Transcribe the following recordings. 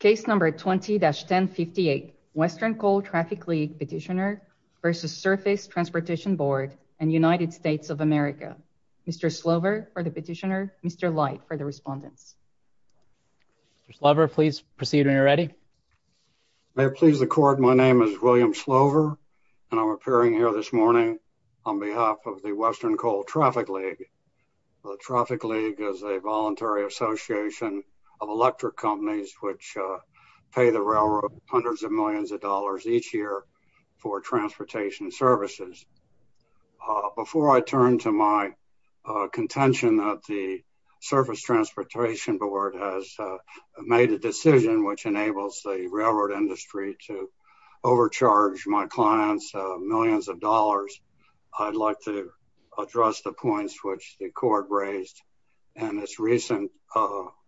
Case number 20-1058, Western Coal Traffic League petitioner versus Surface Transportation Board and United States of America. Mr. Slover for the petitioner, Mr. Light for the respondents. Mr. Slover, please proceed when you're ready. May it please the court, my name is William Slover and I'm appearing here this morning on behalf of the Western Coal Traffic League. Traffic League is a voluntary association of electric companies which pay the railroad hundreds of millions of dollars each year for transportation services. Before I turn to my contention that the Surface Transportation Board has made a decision which enables the railroad industry to overcharge my clients millions of dollars, I'd like to address the the court raised in its recent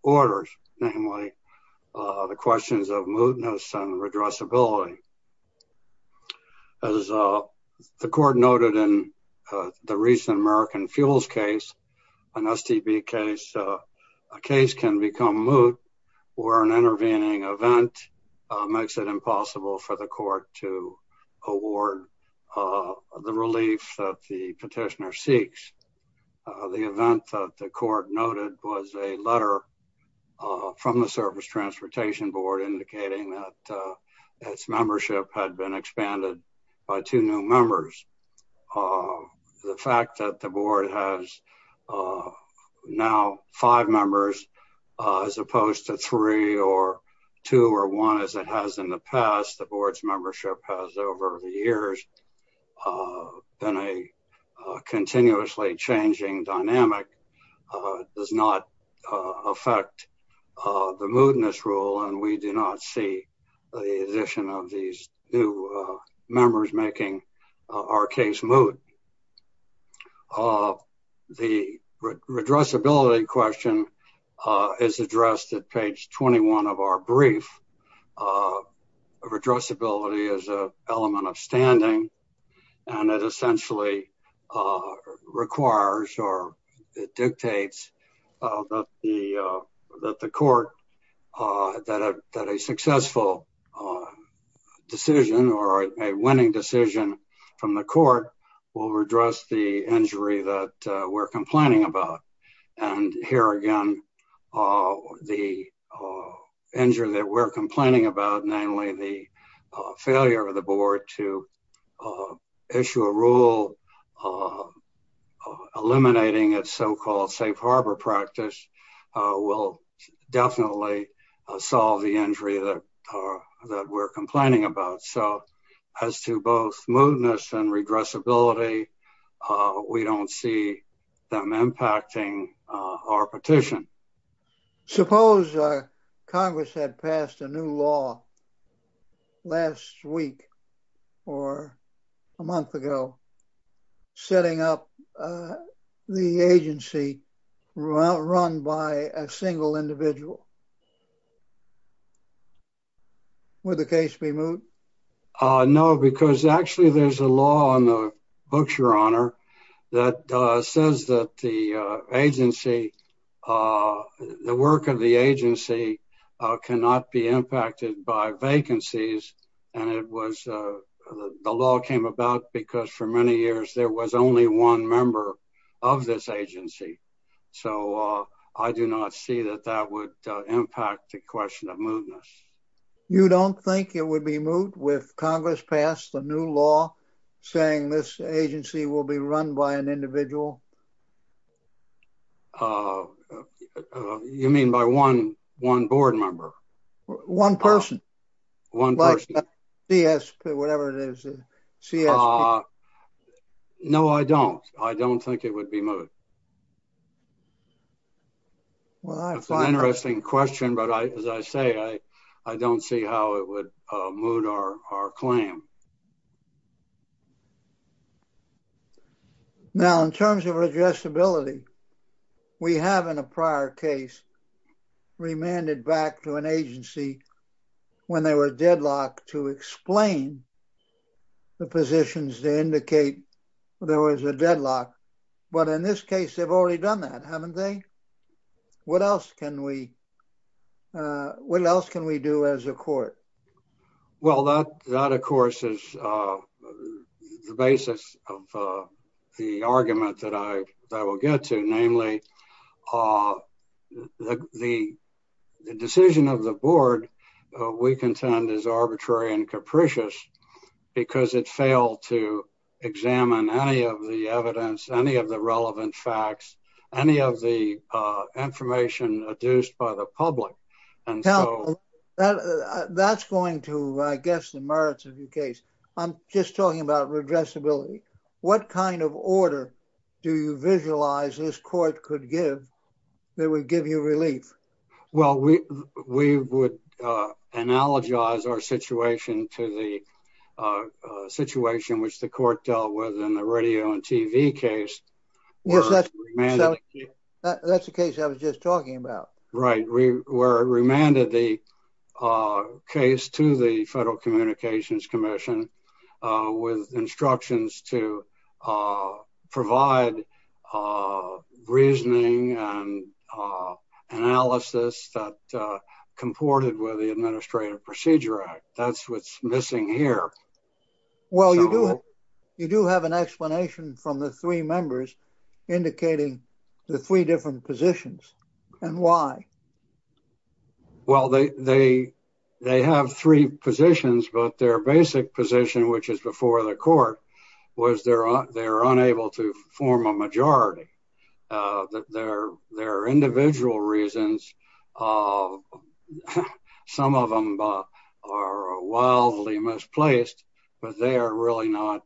orders, namely the questions of mootness and redressability. As the court noted in the recent American Fuels case, an STB case can become moot or an intervening event makes it impossible for the court to award the relief that the petitioner requests. The event that the court noted was a letter from the Surface Transportation Board indicating that its membership had been expanded by two new members. The fact that the board has now five members as opposed to three or two or one as it has in the past, the board's membership has over the years been a continuously changing dynamic, does not affect the mootness rule and we do not see the addition of these new members making our case moot. The redressability question is addressed at page 21 of our brief. Redressability is an element of standing and it essentially requires or dictates that the court, that a successful decision or a winning decision from the court will redress the injury that we're complaining about. Here again, the injury that we're complaining about, namely the failure of the board to issue a rule eliminating its so-called safe harbor practice will definitely solve the injury that we're complaining about. As to both mootness and redressability, we don't see them impacting our petition. Suppose Congress had passed a new law last week or a month ago setting up the agency run by a single individual. Would the case be moot? No, because actually there's a law on the books, your honor, that says that the agency, the work of the agency cannot be impacted by vacancies and it was, the law came about because for many years there was only one member of this agency. So, I do not see that that would impact the question of mootness. You don't think it would be moot if Congress passed a new law saying this agency will be run by an individual? You mean by one board member? One person. Whatever it is. No, I don't. I don't think it would be moot. Well, that's an interesting question, but as I say, I don't see how it would moot our claim. Now, in terms of redressability, we have in a prior case remanded back to an agency when they were deadlocked to explain the positions to indicate there was a deadlock, but in this case they've already done that, haven't they? What else can we do as a court? Well, that of course is the basis of the argument that I will get to, namely the decision of the board we contend is arbitrary and capricious because it failed to the relevant facts, any of the information adduced by the public. That's going to, I guess, the merits of your case. I'm just talking about redressability. What kind of order do you visualize this court could give that would give you relief? Well, we would analogize our situation to the situation which the court dealt with in the radio and TV case. Yes, that's the case I was just talking about. Right, where it remanded the case to the Federal Communications Commission with instructions to provide reasoning and analysis that comported with the Administrative Procedure Act. That's what's from the three members indicating the three different positions, and why? Well, they have three positions, but their basic position, which is before the court, was they're unable to form a majority. There are individual reasons. Some of them are wildly misplaced, but they are really not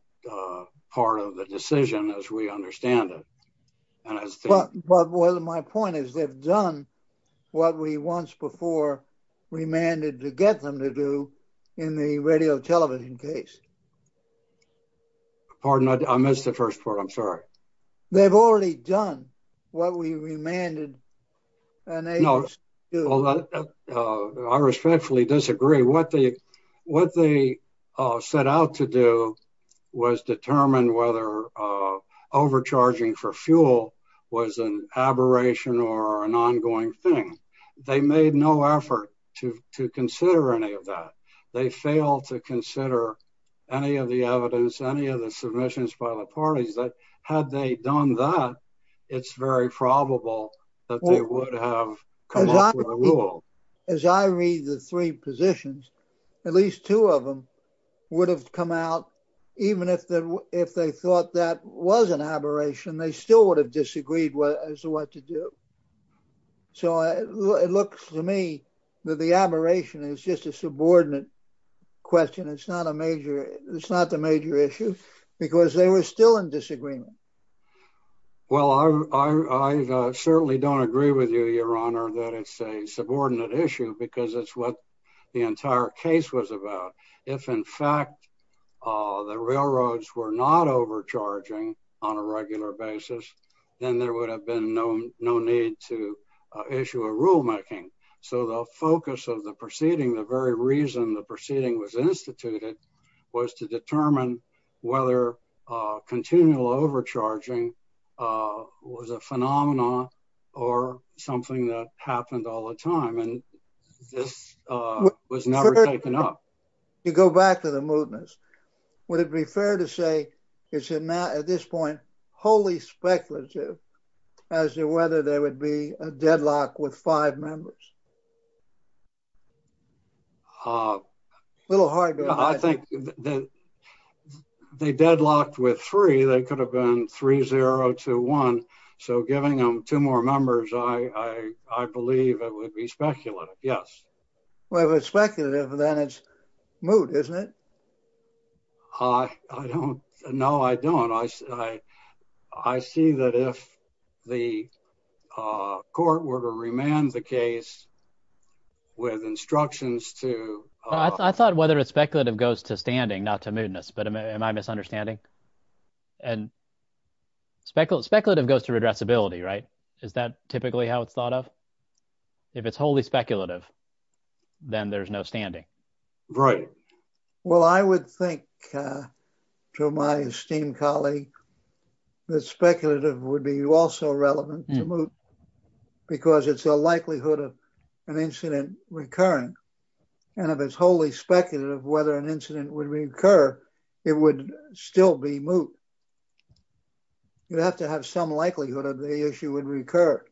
part of the decision as we understand it. But my point is they've done what we once before remanded to get them to do in the radio television case. Pardon, I missed the first part. I'm sorry. They've already done what we remanded. I respectfully disagree. What they set out to do was determine whether overcharging for fuel was an aberration or an ongoing thing. They made no effort to consider any of that. They failed to consider any of the evidence, any of the submissions by the parties that had they done that, it's very probable that they would have come up with a rule. As I read the three positions, at least two of them would have come out, even if they thought that was an aberration, they still would have disagreed as to what to do. So it looks to me that the aberration is just a question. It's not a major issue because they were still in disagreement. Well, I certainly don't agree with you, your honor, that it's a subordinate issue because it's what the entire case was about. If in fact, the railroads were not overcharging on a regular basis, then there would have been no need to issue a rulemaking. So the focus of the proceeding, the very reason the proceeding was instituted, was to determine whether continual overcharging was a phenomenon or something that happened all the time. And this was never taken up. You go back to the mootness. Would it be fair to say it's at this point, wholly speculative as to whether there would be a deadlock with five members? A little hard. I think that they deadlocked with three. They could have been three, zero to one. So giving them two more members, I believe it would be speculative. Yes. Well, if it's speculative, then it's moot, isn't it? I don't know. I don't. I see that if the court were to remand the case with instructions to- I thought whether it's speculative goes to standing, not to mootness, but am I misunderstanding? Speculative goes to redressability, right? Is that typically how it's thought of? If it's wholly speculative, then there's no standing. Right. Well, I would think to my esteemed colleague that speculative would be also relevant to moot, because it's a likelihood of an incident recurring. And if it's wholly speculative of whether an incident would recur, it would still be moot. You'd have to have some likelihood of the issue would recur.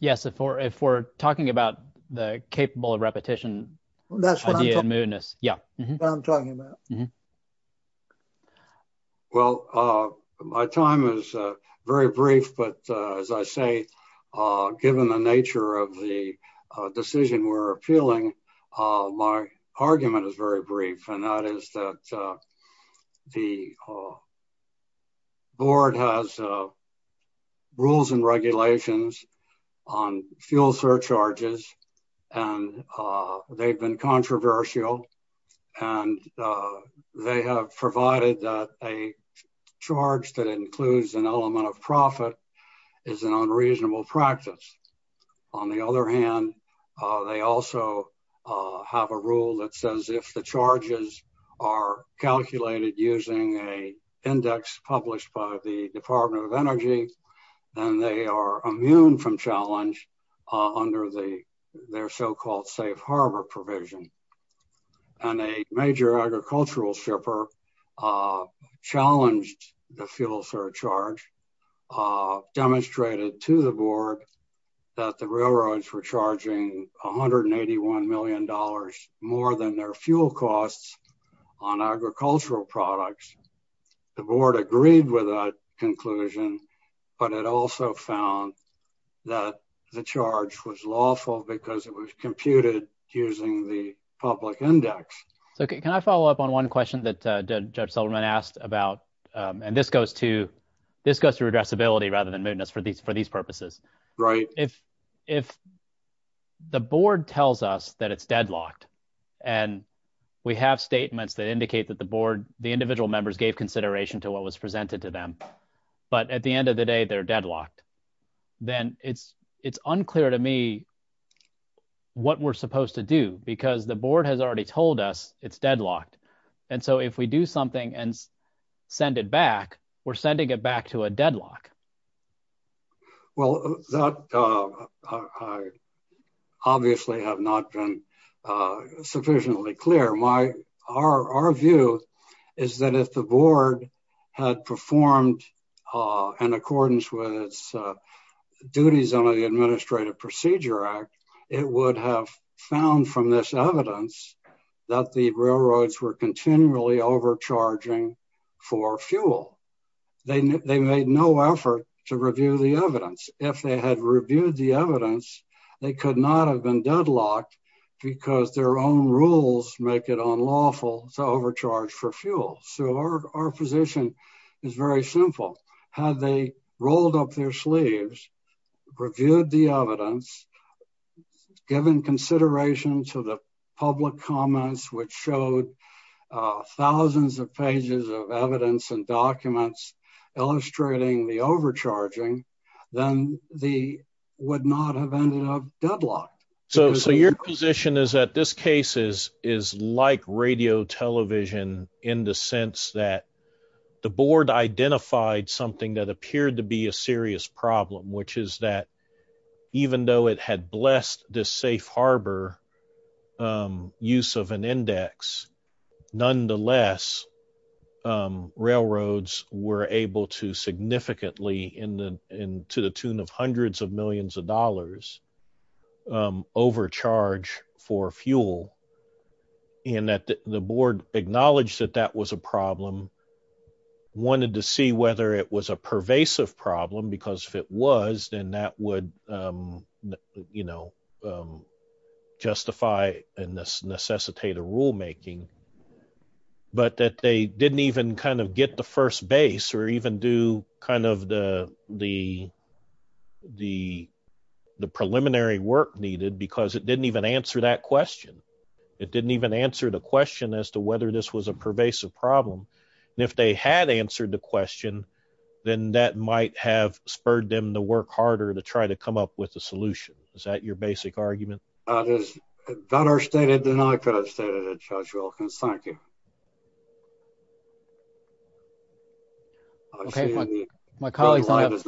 Yes. If we're talking about the capable of repetition idea of mootness. That's what I'm talking about. Mm-hmm. Well, my time is very brief, but as I say, given the nature of the decision we're appealing, my argument is very brief. And that is that the board has rules and regulations on fuel surcharges, and they've been controversial. And they have provided that a charge that includes an element of profit is an unreasonable practice. On the other hand, they also have a rule that says if the charges are calculated using a index published by the Department of Energy, then they are immune from under their so-called safe harbor provision. And a major agricultural shipper challenged the fuel surcharge, demonstrated to the board that the railroads were charging $181 million more than their fuel costs on agricultural products. The board agreed with that conclusion, but it also found that the charge was lawful because it was computed using the public index. Can I follow up on one question that Judge Seligman asked about, and this goes to redressability rather than mootness for these purposes. Right. If the board tells us that it's deadlocked and we have statements that indicate that the board, the individual members gave consideration to what was presented to them, but at the end of the day, they're deadlocked, then it's unclear to me what we're supposed to do because the board has already told us it's deadlocked. And so if we do something and send it back, we're sending it back to a deadlock. Well, that obviously has not been sufficiently clear. Our view is that if the board had performed in accordance with its duties under the Administrative Procedure Act, it would have found from this evidence that the railroads were continually overcharging for fuel. They made no effort to review the evidence. If they had reviewed the evidence, they could not have been deadlocked because their own rules make it unlawful to overcharge for fuel. So our position is very simple. Had they rolled up their sleeves, reviewed the evidence, given consideration to the public comments, which showed thousands of pages of evidence and documents illustrating the overcharging, then they would not have ended up deadlocked. So your position is that this case is like radio television in the sense that the board identified something that appeared to be a serious problem, which is that even though it had blessed this safe harbor use of an index, nonetheless, railroads were able to significantly, to the tune of hundreds of millions of dollars, overcharge for fuel. And that the board acknowledged that that was a problem, wanted to see whether it was a pervasive problem because if it was, then that would you know, justify and necessitate a rulemaking. But that they didn't even kind of get the first base or even do kind of the preliminary work needed because it didn't even answer that question. It didn't even answer the question as to whether this was a pervasive problem. And if they had answered the question, then that might have spurred them to work harder to try to come up with a solution. Is that your basic argument? That is better stated than I could have stated it, Judge Wilkins. Thank you. Okay. My colleagues don't have,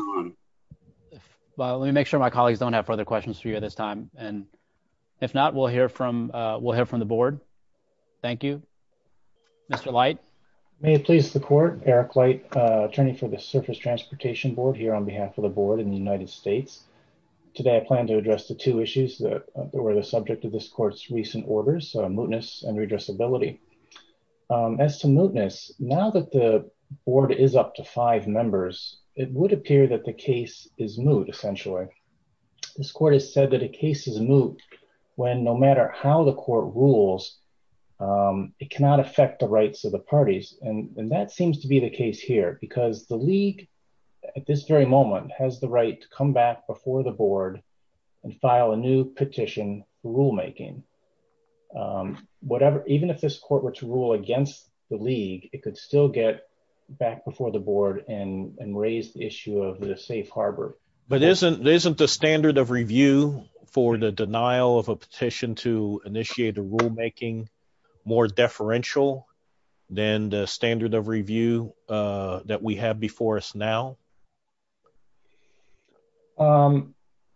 well, let me make sure my colleagues don't have further questions for you at this time. And if not, we'll hear from, we'll hear from the board. Thank you, Mr. Light. May it please the court, Eric Light, attorney for the surface transportation board here on today. I plan to address the two issues that were the subject of this court's recent orders, mootness and redressability. As to mootness, now that the board is up to five members, it would appear that the case is moot essentially. This court has said that a case is moot when no matter how the court rules, it cannot affect the rights of the parties. And that seems to be the and file a new petition rule-making whatever, even if this court were to rule against the league, it could still get back before the board and raise the issue of the safe Harbor. But isn't, isn't the standard of review for the denial of a petition to initiate a rule-making more deferential than the standard of review that we have before us now?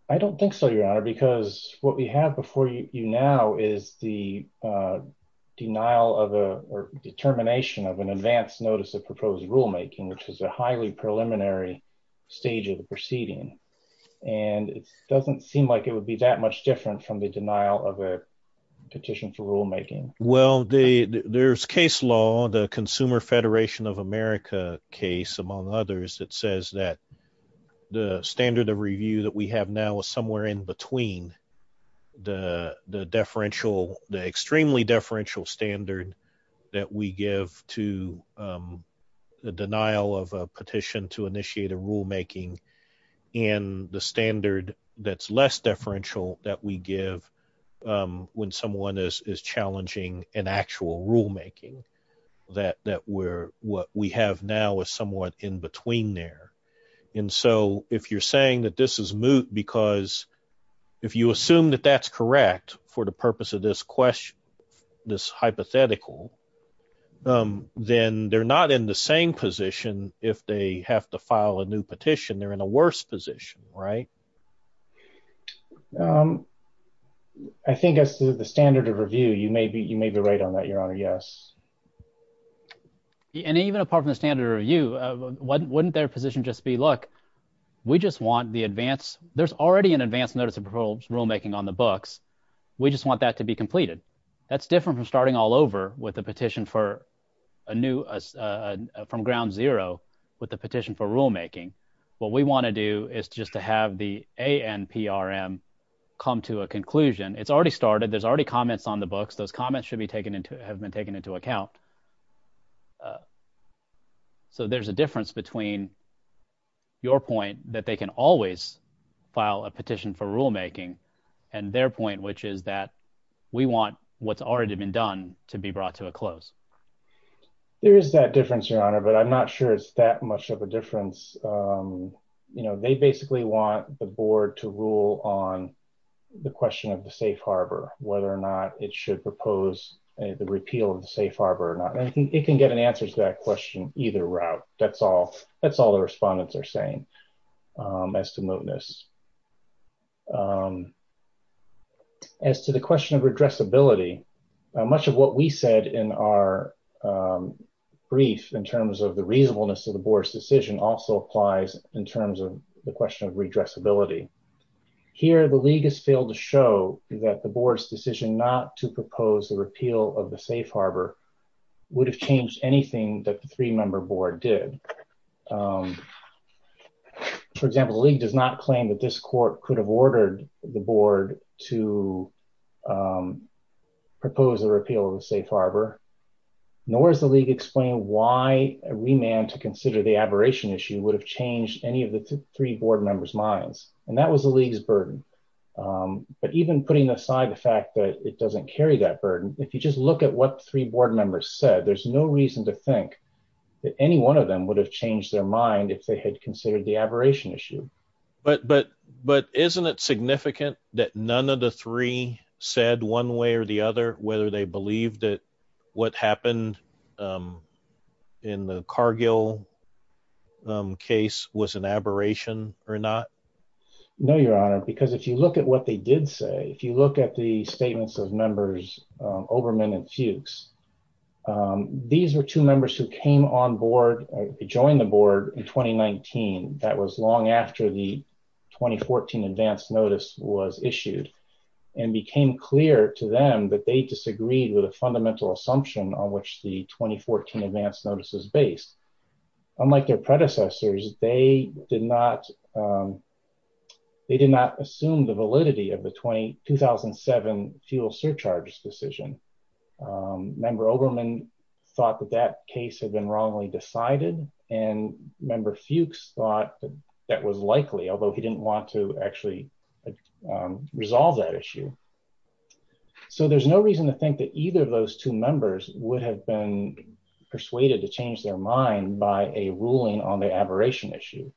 I don't think so, your honor, because what we have before you now is the denial of a determination of an advanced notice of proposed rule-making, which is a highly preliminary stage of the proceeding. And it doesn't seem like it would be that much different from the denial of a petition for rule-making. Well, the there's case law, the consumer Federation of America case among others that says that the standard of review that we have now is somewhere in between the, the deferential, the extremely deferential standard that we give to the denial of a petition to initiate a rule-making and the standard that's less deferential that we give when someone is, is challenging an actual rule-making that, that we're, what we have now is somewhat in between there. And so if you're saying that this is moot, because if you assume that that's correct for the purpose of this question, this hypothetical, then they're not in the same position. If they have to file a new petition, they're in a worse position, right? I think as the standard of review, you may be, you may be right on that. Your honor. Yes. And even apart from the standard or you wouldn't, wouldn't their position just be, look, we just want the advance. There's already an advanced notice of proposed rule-making on the books. We just want that to be completed. That's different from starting all over with a petition for a new, from ground zero with the petition for rule-making. What we want to do is just to have the ANPRM come to a conclusion. It's already started. There's already comments on the books. Those comments should be taken into, have been taken into account. So there's a difference between your point that they can always file a petition for rule-making and their point, which is that we want what's already been done to be brought to a close. There is that difference, your honor, but I'm not sure it's that much of a difference. You know, they basically want the board to rule on the question of the safe Harbor, whether or not it should propose the repeal of the safe Harbor or not. And it can get an answer to that question, either route. That's all, that's all the respondents are saying as to movements. As to the question of redress ability, much of what we said in our brief in terms of the reasonableness of the board's decision also applies in terms of the question of redress ability. Here, the league has failed to show that the board's decision not to propose the repeal of the safe Harbor would have changed anything that the three member board did. For example, the league does not claim that this court could have ordered the board to propose a repeal of the safe Harbor, nor is the league explained why a remand to consider the aberration issue would have changed any of the three board members' minds. And that was the league's burden. But even putting aside the fact that it doesn't carry that burden, if you just look at what three board members said, there's no reason to think that any one of them would have changed their mind if they had considered the aberration issue. But, but, but isn't it significant that none of the three said one way or the other, whether they believe that what happened, um, in the Cargill, um, case was an aberration or not? No, your honor, because if you look at what they did say, if you look at the statements of members, uh, Overman and Fuchs, um, these were two members who came on board, joined the board in 2019. That was long after the 2014 advanced notice was issued and became clear to them that they disagreed with a fundamental assumption on which the 2014 advanced notice is based. Unlike their predecessors, they did not, um, they did not assume the validity of the 20, 2007 fuel surcharges decision. Um, member Oberman thought that that case had been wrongly decided and member Fuchs thought that was likely, although he didn't want to actually, um, resolve that issue. So there's no reason to think that either of those two members would have been persuaded to change their mind by a ruling on the aberration issue.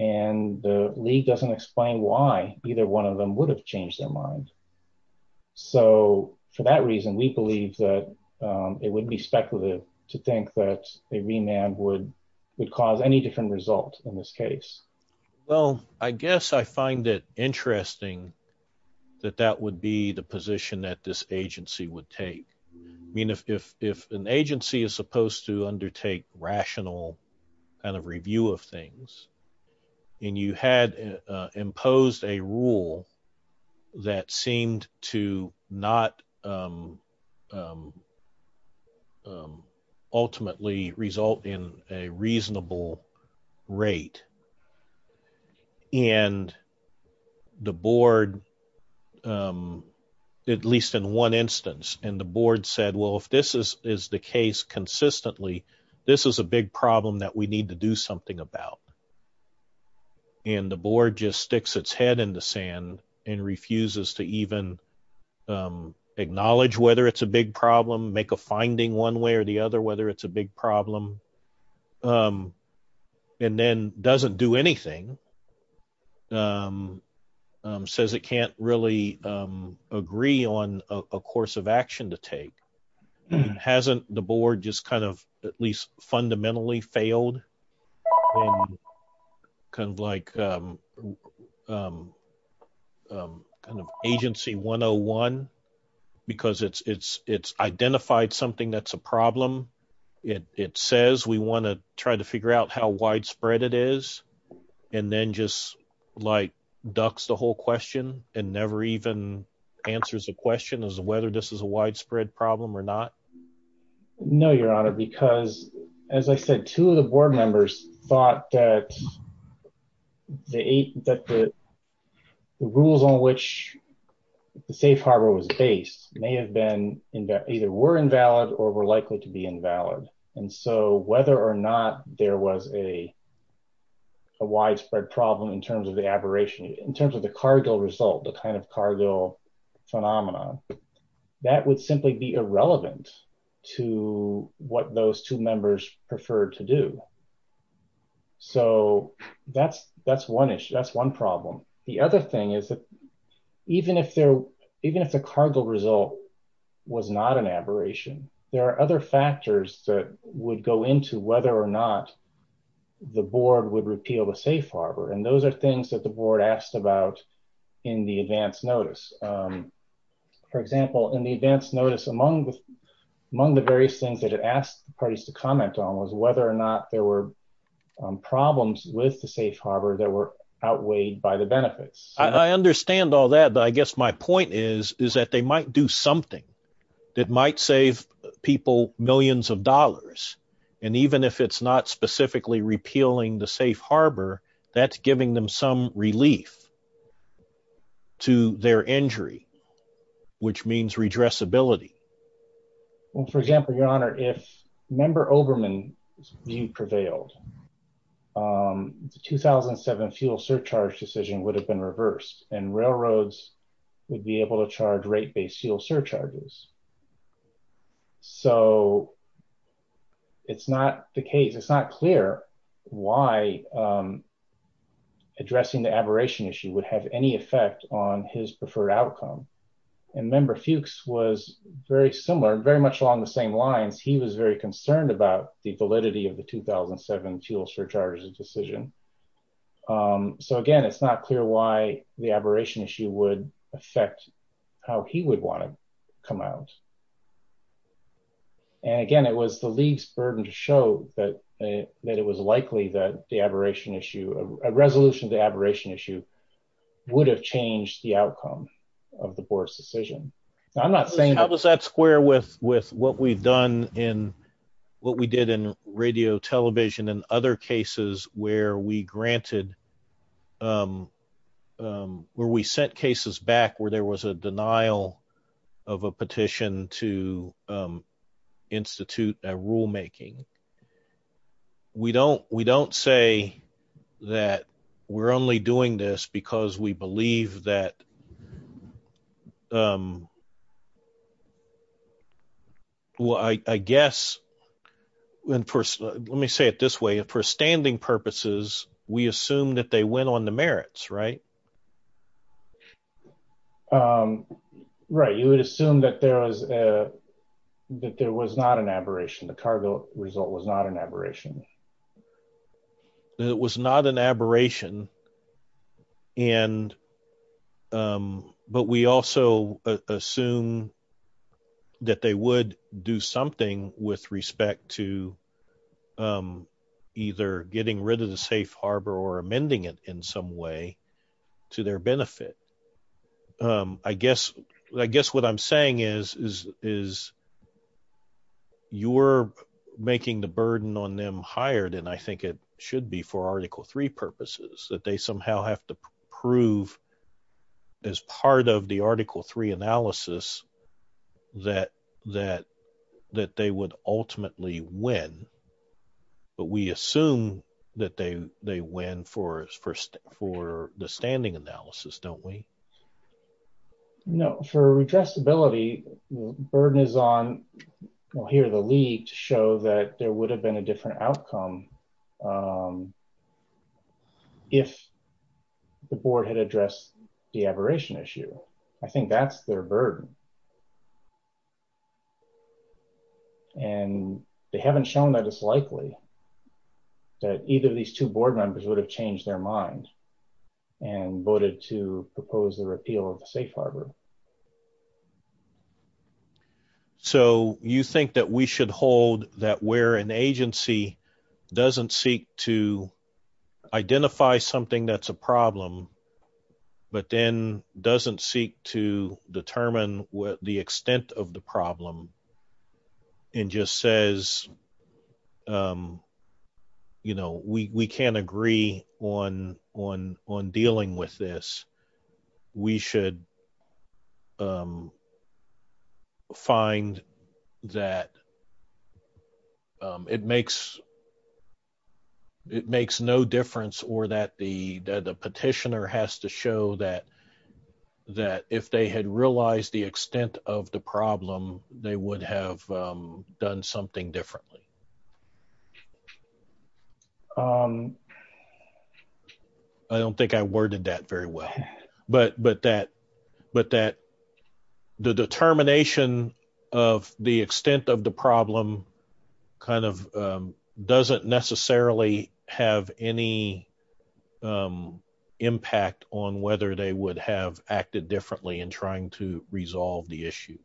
And the league doesn't explain why either one of them would have changed their mind. So for that reason, we believe that, um, it would be speculative to think that a remand would, would cause any different result in this case. Well, I guess I find it interesting that that would be the position that this agency would take. I mean, if, if, if an agency is supposed to undertake rational kind of review of um, ultimately result in a reasonable rate and the board, um, at least in one instance, and the board said, well, if this is the case consistently, this is a big problem that we need to do something about. And the board just sticks its head in the sand and refuses to even, um, make a finding one way or the other, whether it's a big problem, um, and then doesn't do anything. Um, um, says it can't really, um, agree on a course of action to take. Hasn't the board just kind of at least fundamentally failed kind of like, um, um, kind of agency one Oh one, because it's, it's, it's identified something that's a problem. It says, we want to try to figure out how widespread it is. And then just like ducks, the whole question and never even answers the question as to whether this is a widespread problem or not. No, your honor, because as I said, two of the board members thought that the eight that the rules on which the safe harbor was based may have been in that either were invalid or were likely to be invalid. And so whether or not there was a, a widespread problem in terms of the aberration in terms of the Cargill result, the kind of Cargill phenomenon that would simply be irrelevant to what those two members prefer to do. So that's, that's one issue. That's one problem. The other thing is that even if there, even if the Cargill result was not an aberration, there are other factors that would go into whether or not the board would repeal the safe harbor. And those are things that the board asked about in the advanced notice. Um, for example, in the advanced notice among the, among the various things that it asked the parties to comment on was whether or not there were problems with the safe harbor that were outweighed by the benefits. I understand all that, but I guess my point is, is that they might do something that might save people millions of dollars. And even if it's not specifically repealing the safe harbor, that's giving them some relief to their injury, which means redressability. Well, for example, your honor, if member Oberman prevailed, um, the 2007 fuel surcharge decision would have been reversed and railroads would be able to charge rate-based fuel surcharges. So it's not the case. It's not clear why, um, addressing the outcome. And member Fuchs was very similar, very much along the same lines. He was very concerned about the validity of the 2007 fuel surcharge decision. Um, so again, it's not clear why the aberration issue would affect how he would want to come out. And again, it was the league's burden to show that, uh, that it was likely that the aberration issue, a resolution to aberration issue would have changed the outcome of the board's decision. I'm not saying... How does that square with, with what we've done in what we did in radio television and other cases where we granted, um, um, where we sent cases back where there was a denial of a petition to, um, we don't say that we're only doing this because we believe that, um, well, I guess, let me say it this way, for standing purposes, we assume that they went on the merits, right? Um, right. You would assume that there was, uh, that there was not an aberration. The cargo result was not an aberration. It was not an aberration and, um, but we also assume that they would do something with respect to, um, either getting rid of the safe harbor or making the burden on them higher than I think it should be for article three purposes that they somehow have to prove as part of the article three analysis that, that, that they would ultimately win, but we assume that they, they win for, for, for the standing analysis, don't we? No, for redressability, the burden is on, well here, the league to show that there would have been a different outcome, um, if the board had addressed the aberration issue. I think that's their burden and they haven't shown that it's likely that either of these two board members would have changed their mind and voted to propose the repeal of the safe harbor. So you think that we should hold that where an agency doesn't seek to identify something that's a problem, but then doesn't seek to determine what the extent of the problem and just says, um, you know, we, we can't agree on, on, on dealing with this. We should, um, find that um, it makes, it makes no difference or that the, that the petitioner has to show that, that if they had realized the extent of the problem, they would have, um, done something differently. Um, I don't think I worded that very well, but, but that, but that the determination of the extent of the problem kind of, um, doesn't necessarily have any, um, impact on whether they would have acted differently in trying to resolve the issue.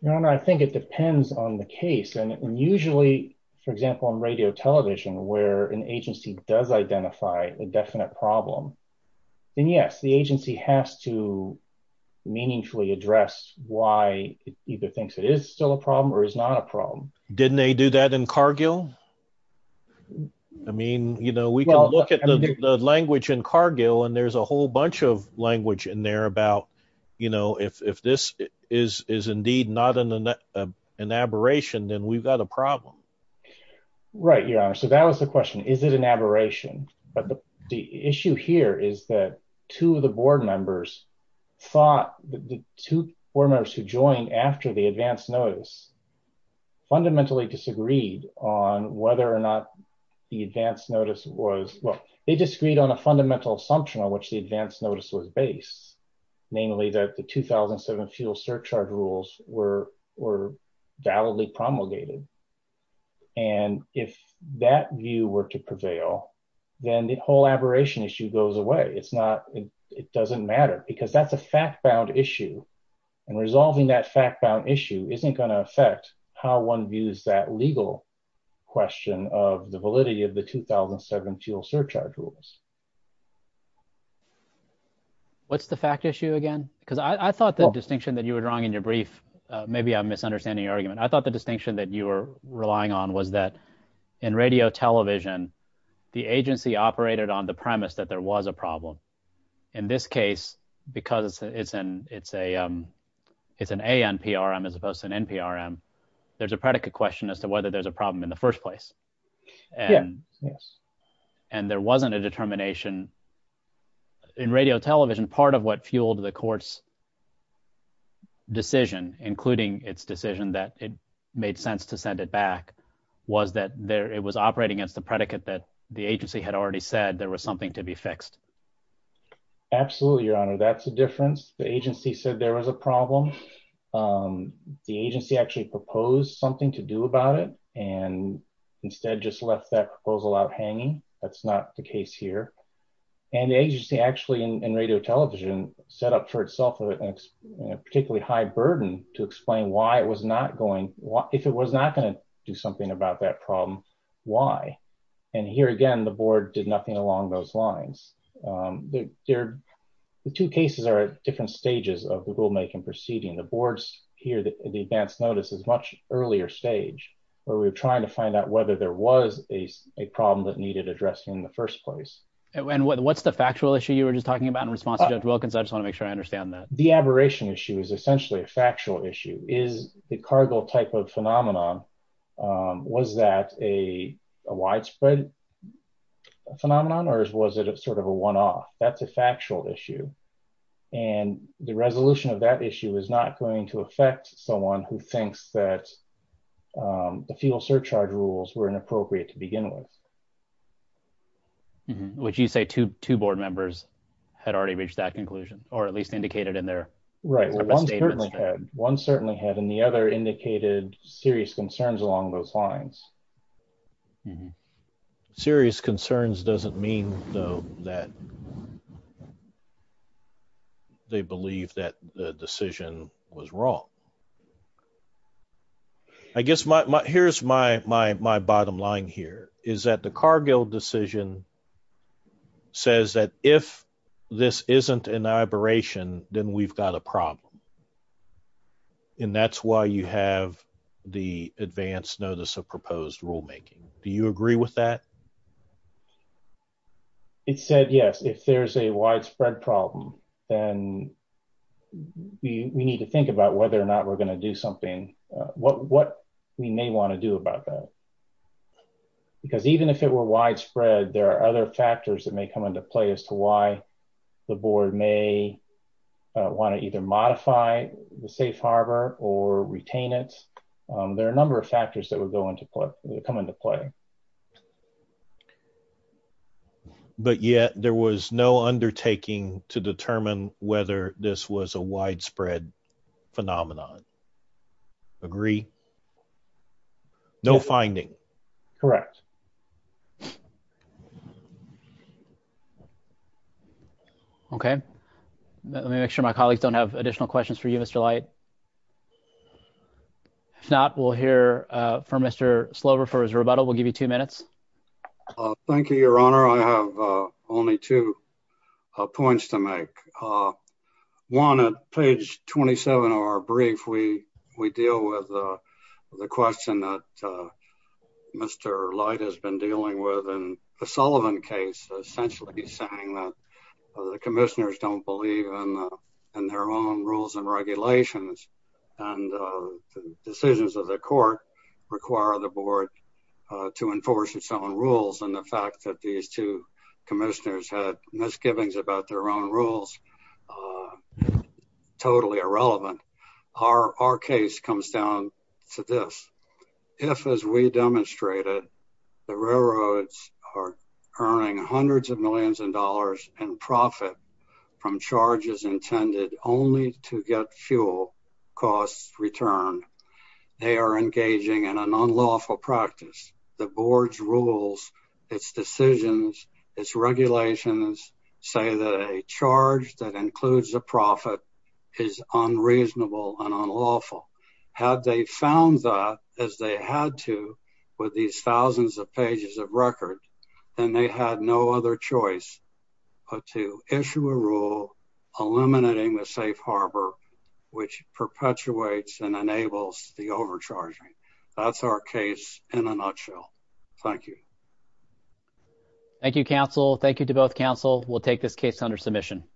No, no. I think it depends on the case. And usually, for example, on radio television, where an agency does identify a definite problem, then yes, the agency has to meaningfully address why it either thinks it is still a problem or is not a problem. Didn't they do that in Cargill? I mean, you know, we can look at the language in Cargill and there's a whole bunch of language in there about, you know, if, if this is, is indeed not an, an aberration, then we've got a problem. Right. Yeah. So that was the question. Is it an aberration? But the issue here is that two of the board members thought that the two board members who joined after the advanced notice fundamentally disagreed on whether or not the advanced notice was, well, they disagreed on a fundamental assumption on which the advanced notice was based, namely that the 2007 fuel surcharge rules were, were validly promulgated. And if that view were to prevail, then the whole aberration issue goes away. It's not, it doesn't matter because that's a fact-bound issue and resolving that fact-bound issue isn't going to affect how one views that legal question of the advance notice. What's the fact issue again? Because I thought the distinction that you were drawing in your brief, maybe I'm misunderstanding your argument. I thought the distinction that you were relying on was that in radio television, the agency operated on the premise that there was a problem. In this case, because it's an, it's a, it's an ANPRM as opposed to an NPRM, there's a predicate question as to whether there's a problem in the first place. And, and there wasn't a determination in radio television, part of what fueled the court's decision, including its decision that it made sense to send it back was that there, it was operating against the predicate that the agency had already said there was something to be fixed. Absolutely. Your honor, that's a difference. The agency said there was a problem. Um, the agency actually proposed something to do about it and instead just left that proposal out hanging. That's not the case here. And the agency actually in, in radio television set up for itself a particularly high burden to explain why it was not going, if it was not going to do something about that problem, why? And here again, the board did nothing along those lines. Um, there, the two cases are at different stages of the rulemaking proceeding. The boards here, the advanced notice is much earlier stage where we were trying to find out whether there was a, a problem that needed addressing in the first place. And what's the factual issue you were just talking about in response to judge Wilkins. I just want to make sure I understand that. The aberration issue is essentially a factual issue is the cargo type of phenomenon. Um, was that a widespread phenomenon or was it sort of a one-off that's a factual issue. And the resolution of that issue is not going to affect someone who thinks that, um, the fuel surcharge rules were inappropriate to begin with. Would you say two, two board members had already reached that conclusion or at least indicated in there? Right. Well, one certainly had, one certainly had, and the other indicated serious concerns along those lines. Serious concerns doesn't mean though that they believe that the decision was wrong. I guess my, my, here's my, my, my bottom line here is that the Cargill decision says that if this isn't an aberration, then we've got a problem. And that's why you have the advanced notice of proposed rulemaking. Do you agree with that? It said, yes, if there's a widespread problem, then we need to think about whether or not we're going to do something. Uh, what, what we may want to do about that, because even if it were widespread, there are other factors that may come into play as to why the board may want to either modify the safe harbor or retain it. Um, there are a number of factors that would go into play, come into play. But yet there was no undertaking to determine whether this was a widespread phenomenon. Agree? No finding. Correct. Okay. Let me make sure my colleagues don't have additional questions for you, Mr. Light. If not, we'll hear from Mr. Slover for his rebuttal. We'll give you two minutes. Thank you, Your Honor. I have only two points to make. One at page 27 of our brief, we, we deal with the question that Mr. Light has been dealing with in the Sullivan case, essentially saying that the commissioners don't believe in their own rules and regulations and decisions of the court require the board to enforce its own rules. And the fact that these two commissioners had misgivings about their own rules, uh, totally irrelevant. Our, our case comes down to this. If, as we demonstrated, the railroads are earning hundreds of millions of dollars in profit from charges intended only to get fuel costs returned, they are engaging in an unlawful practice. The board's rules, its decisions, its regulations say that a charge that includes a profit is unreasonable and unlawful. Had they found that as they had to with these thousands of pages of record, then they had no other choice but to issue a rule eliminating the safe harbor, which perpetuates and enables the overcharging. That's our case in a nutshell. Thank you. Thank you, counsel. Thank you to both counsel. We'll take this case under submission.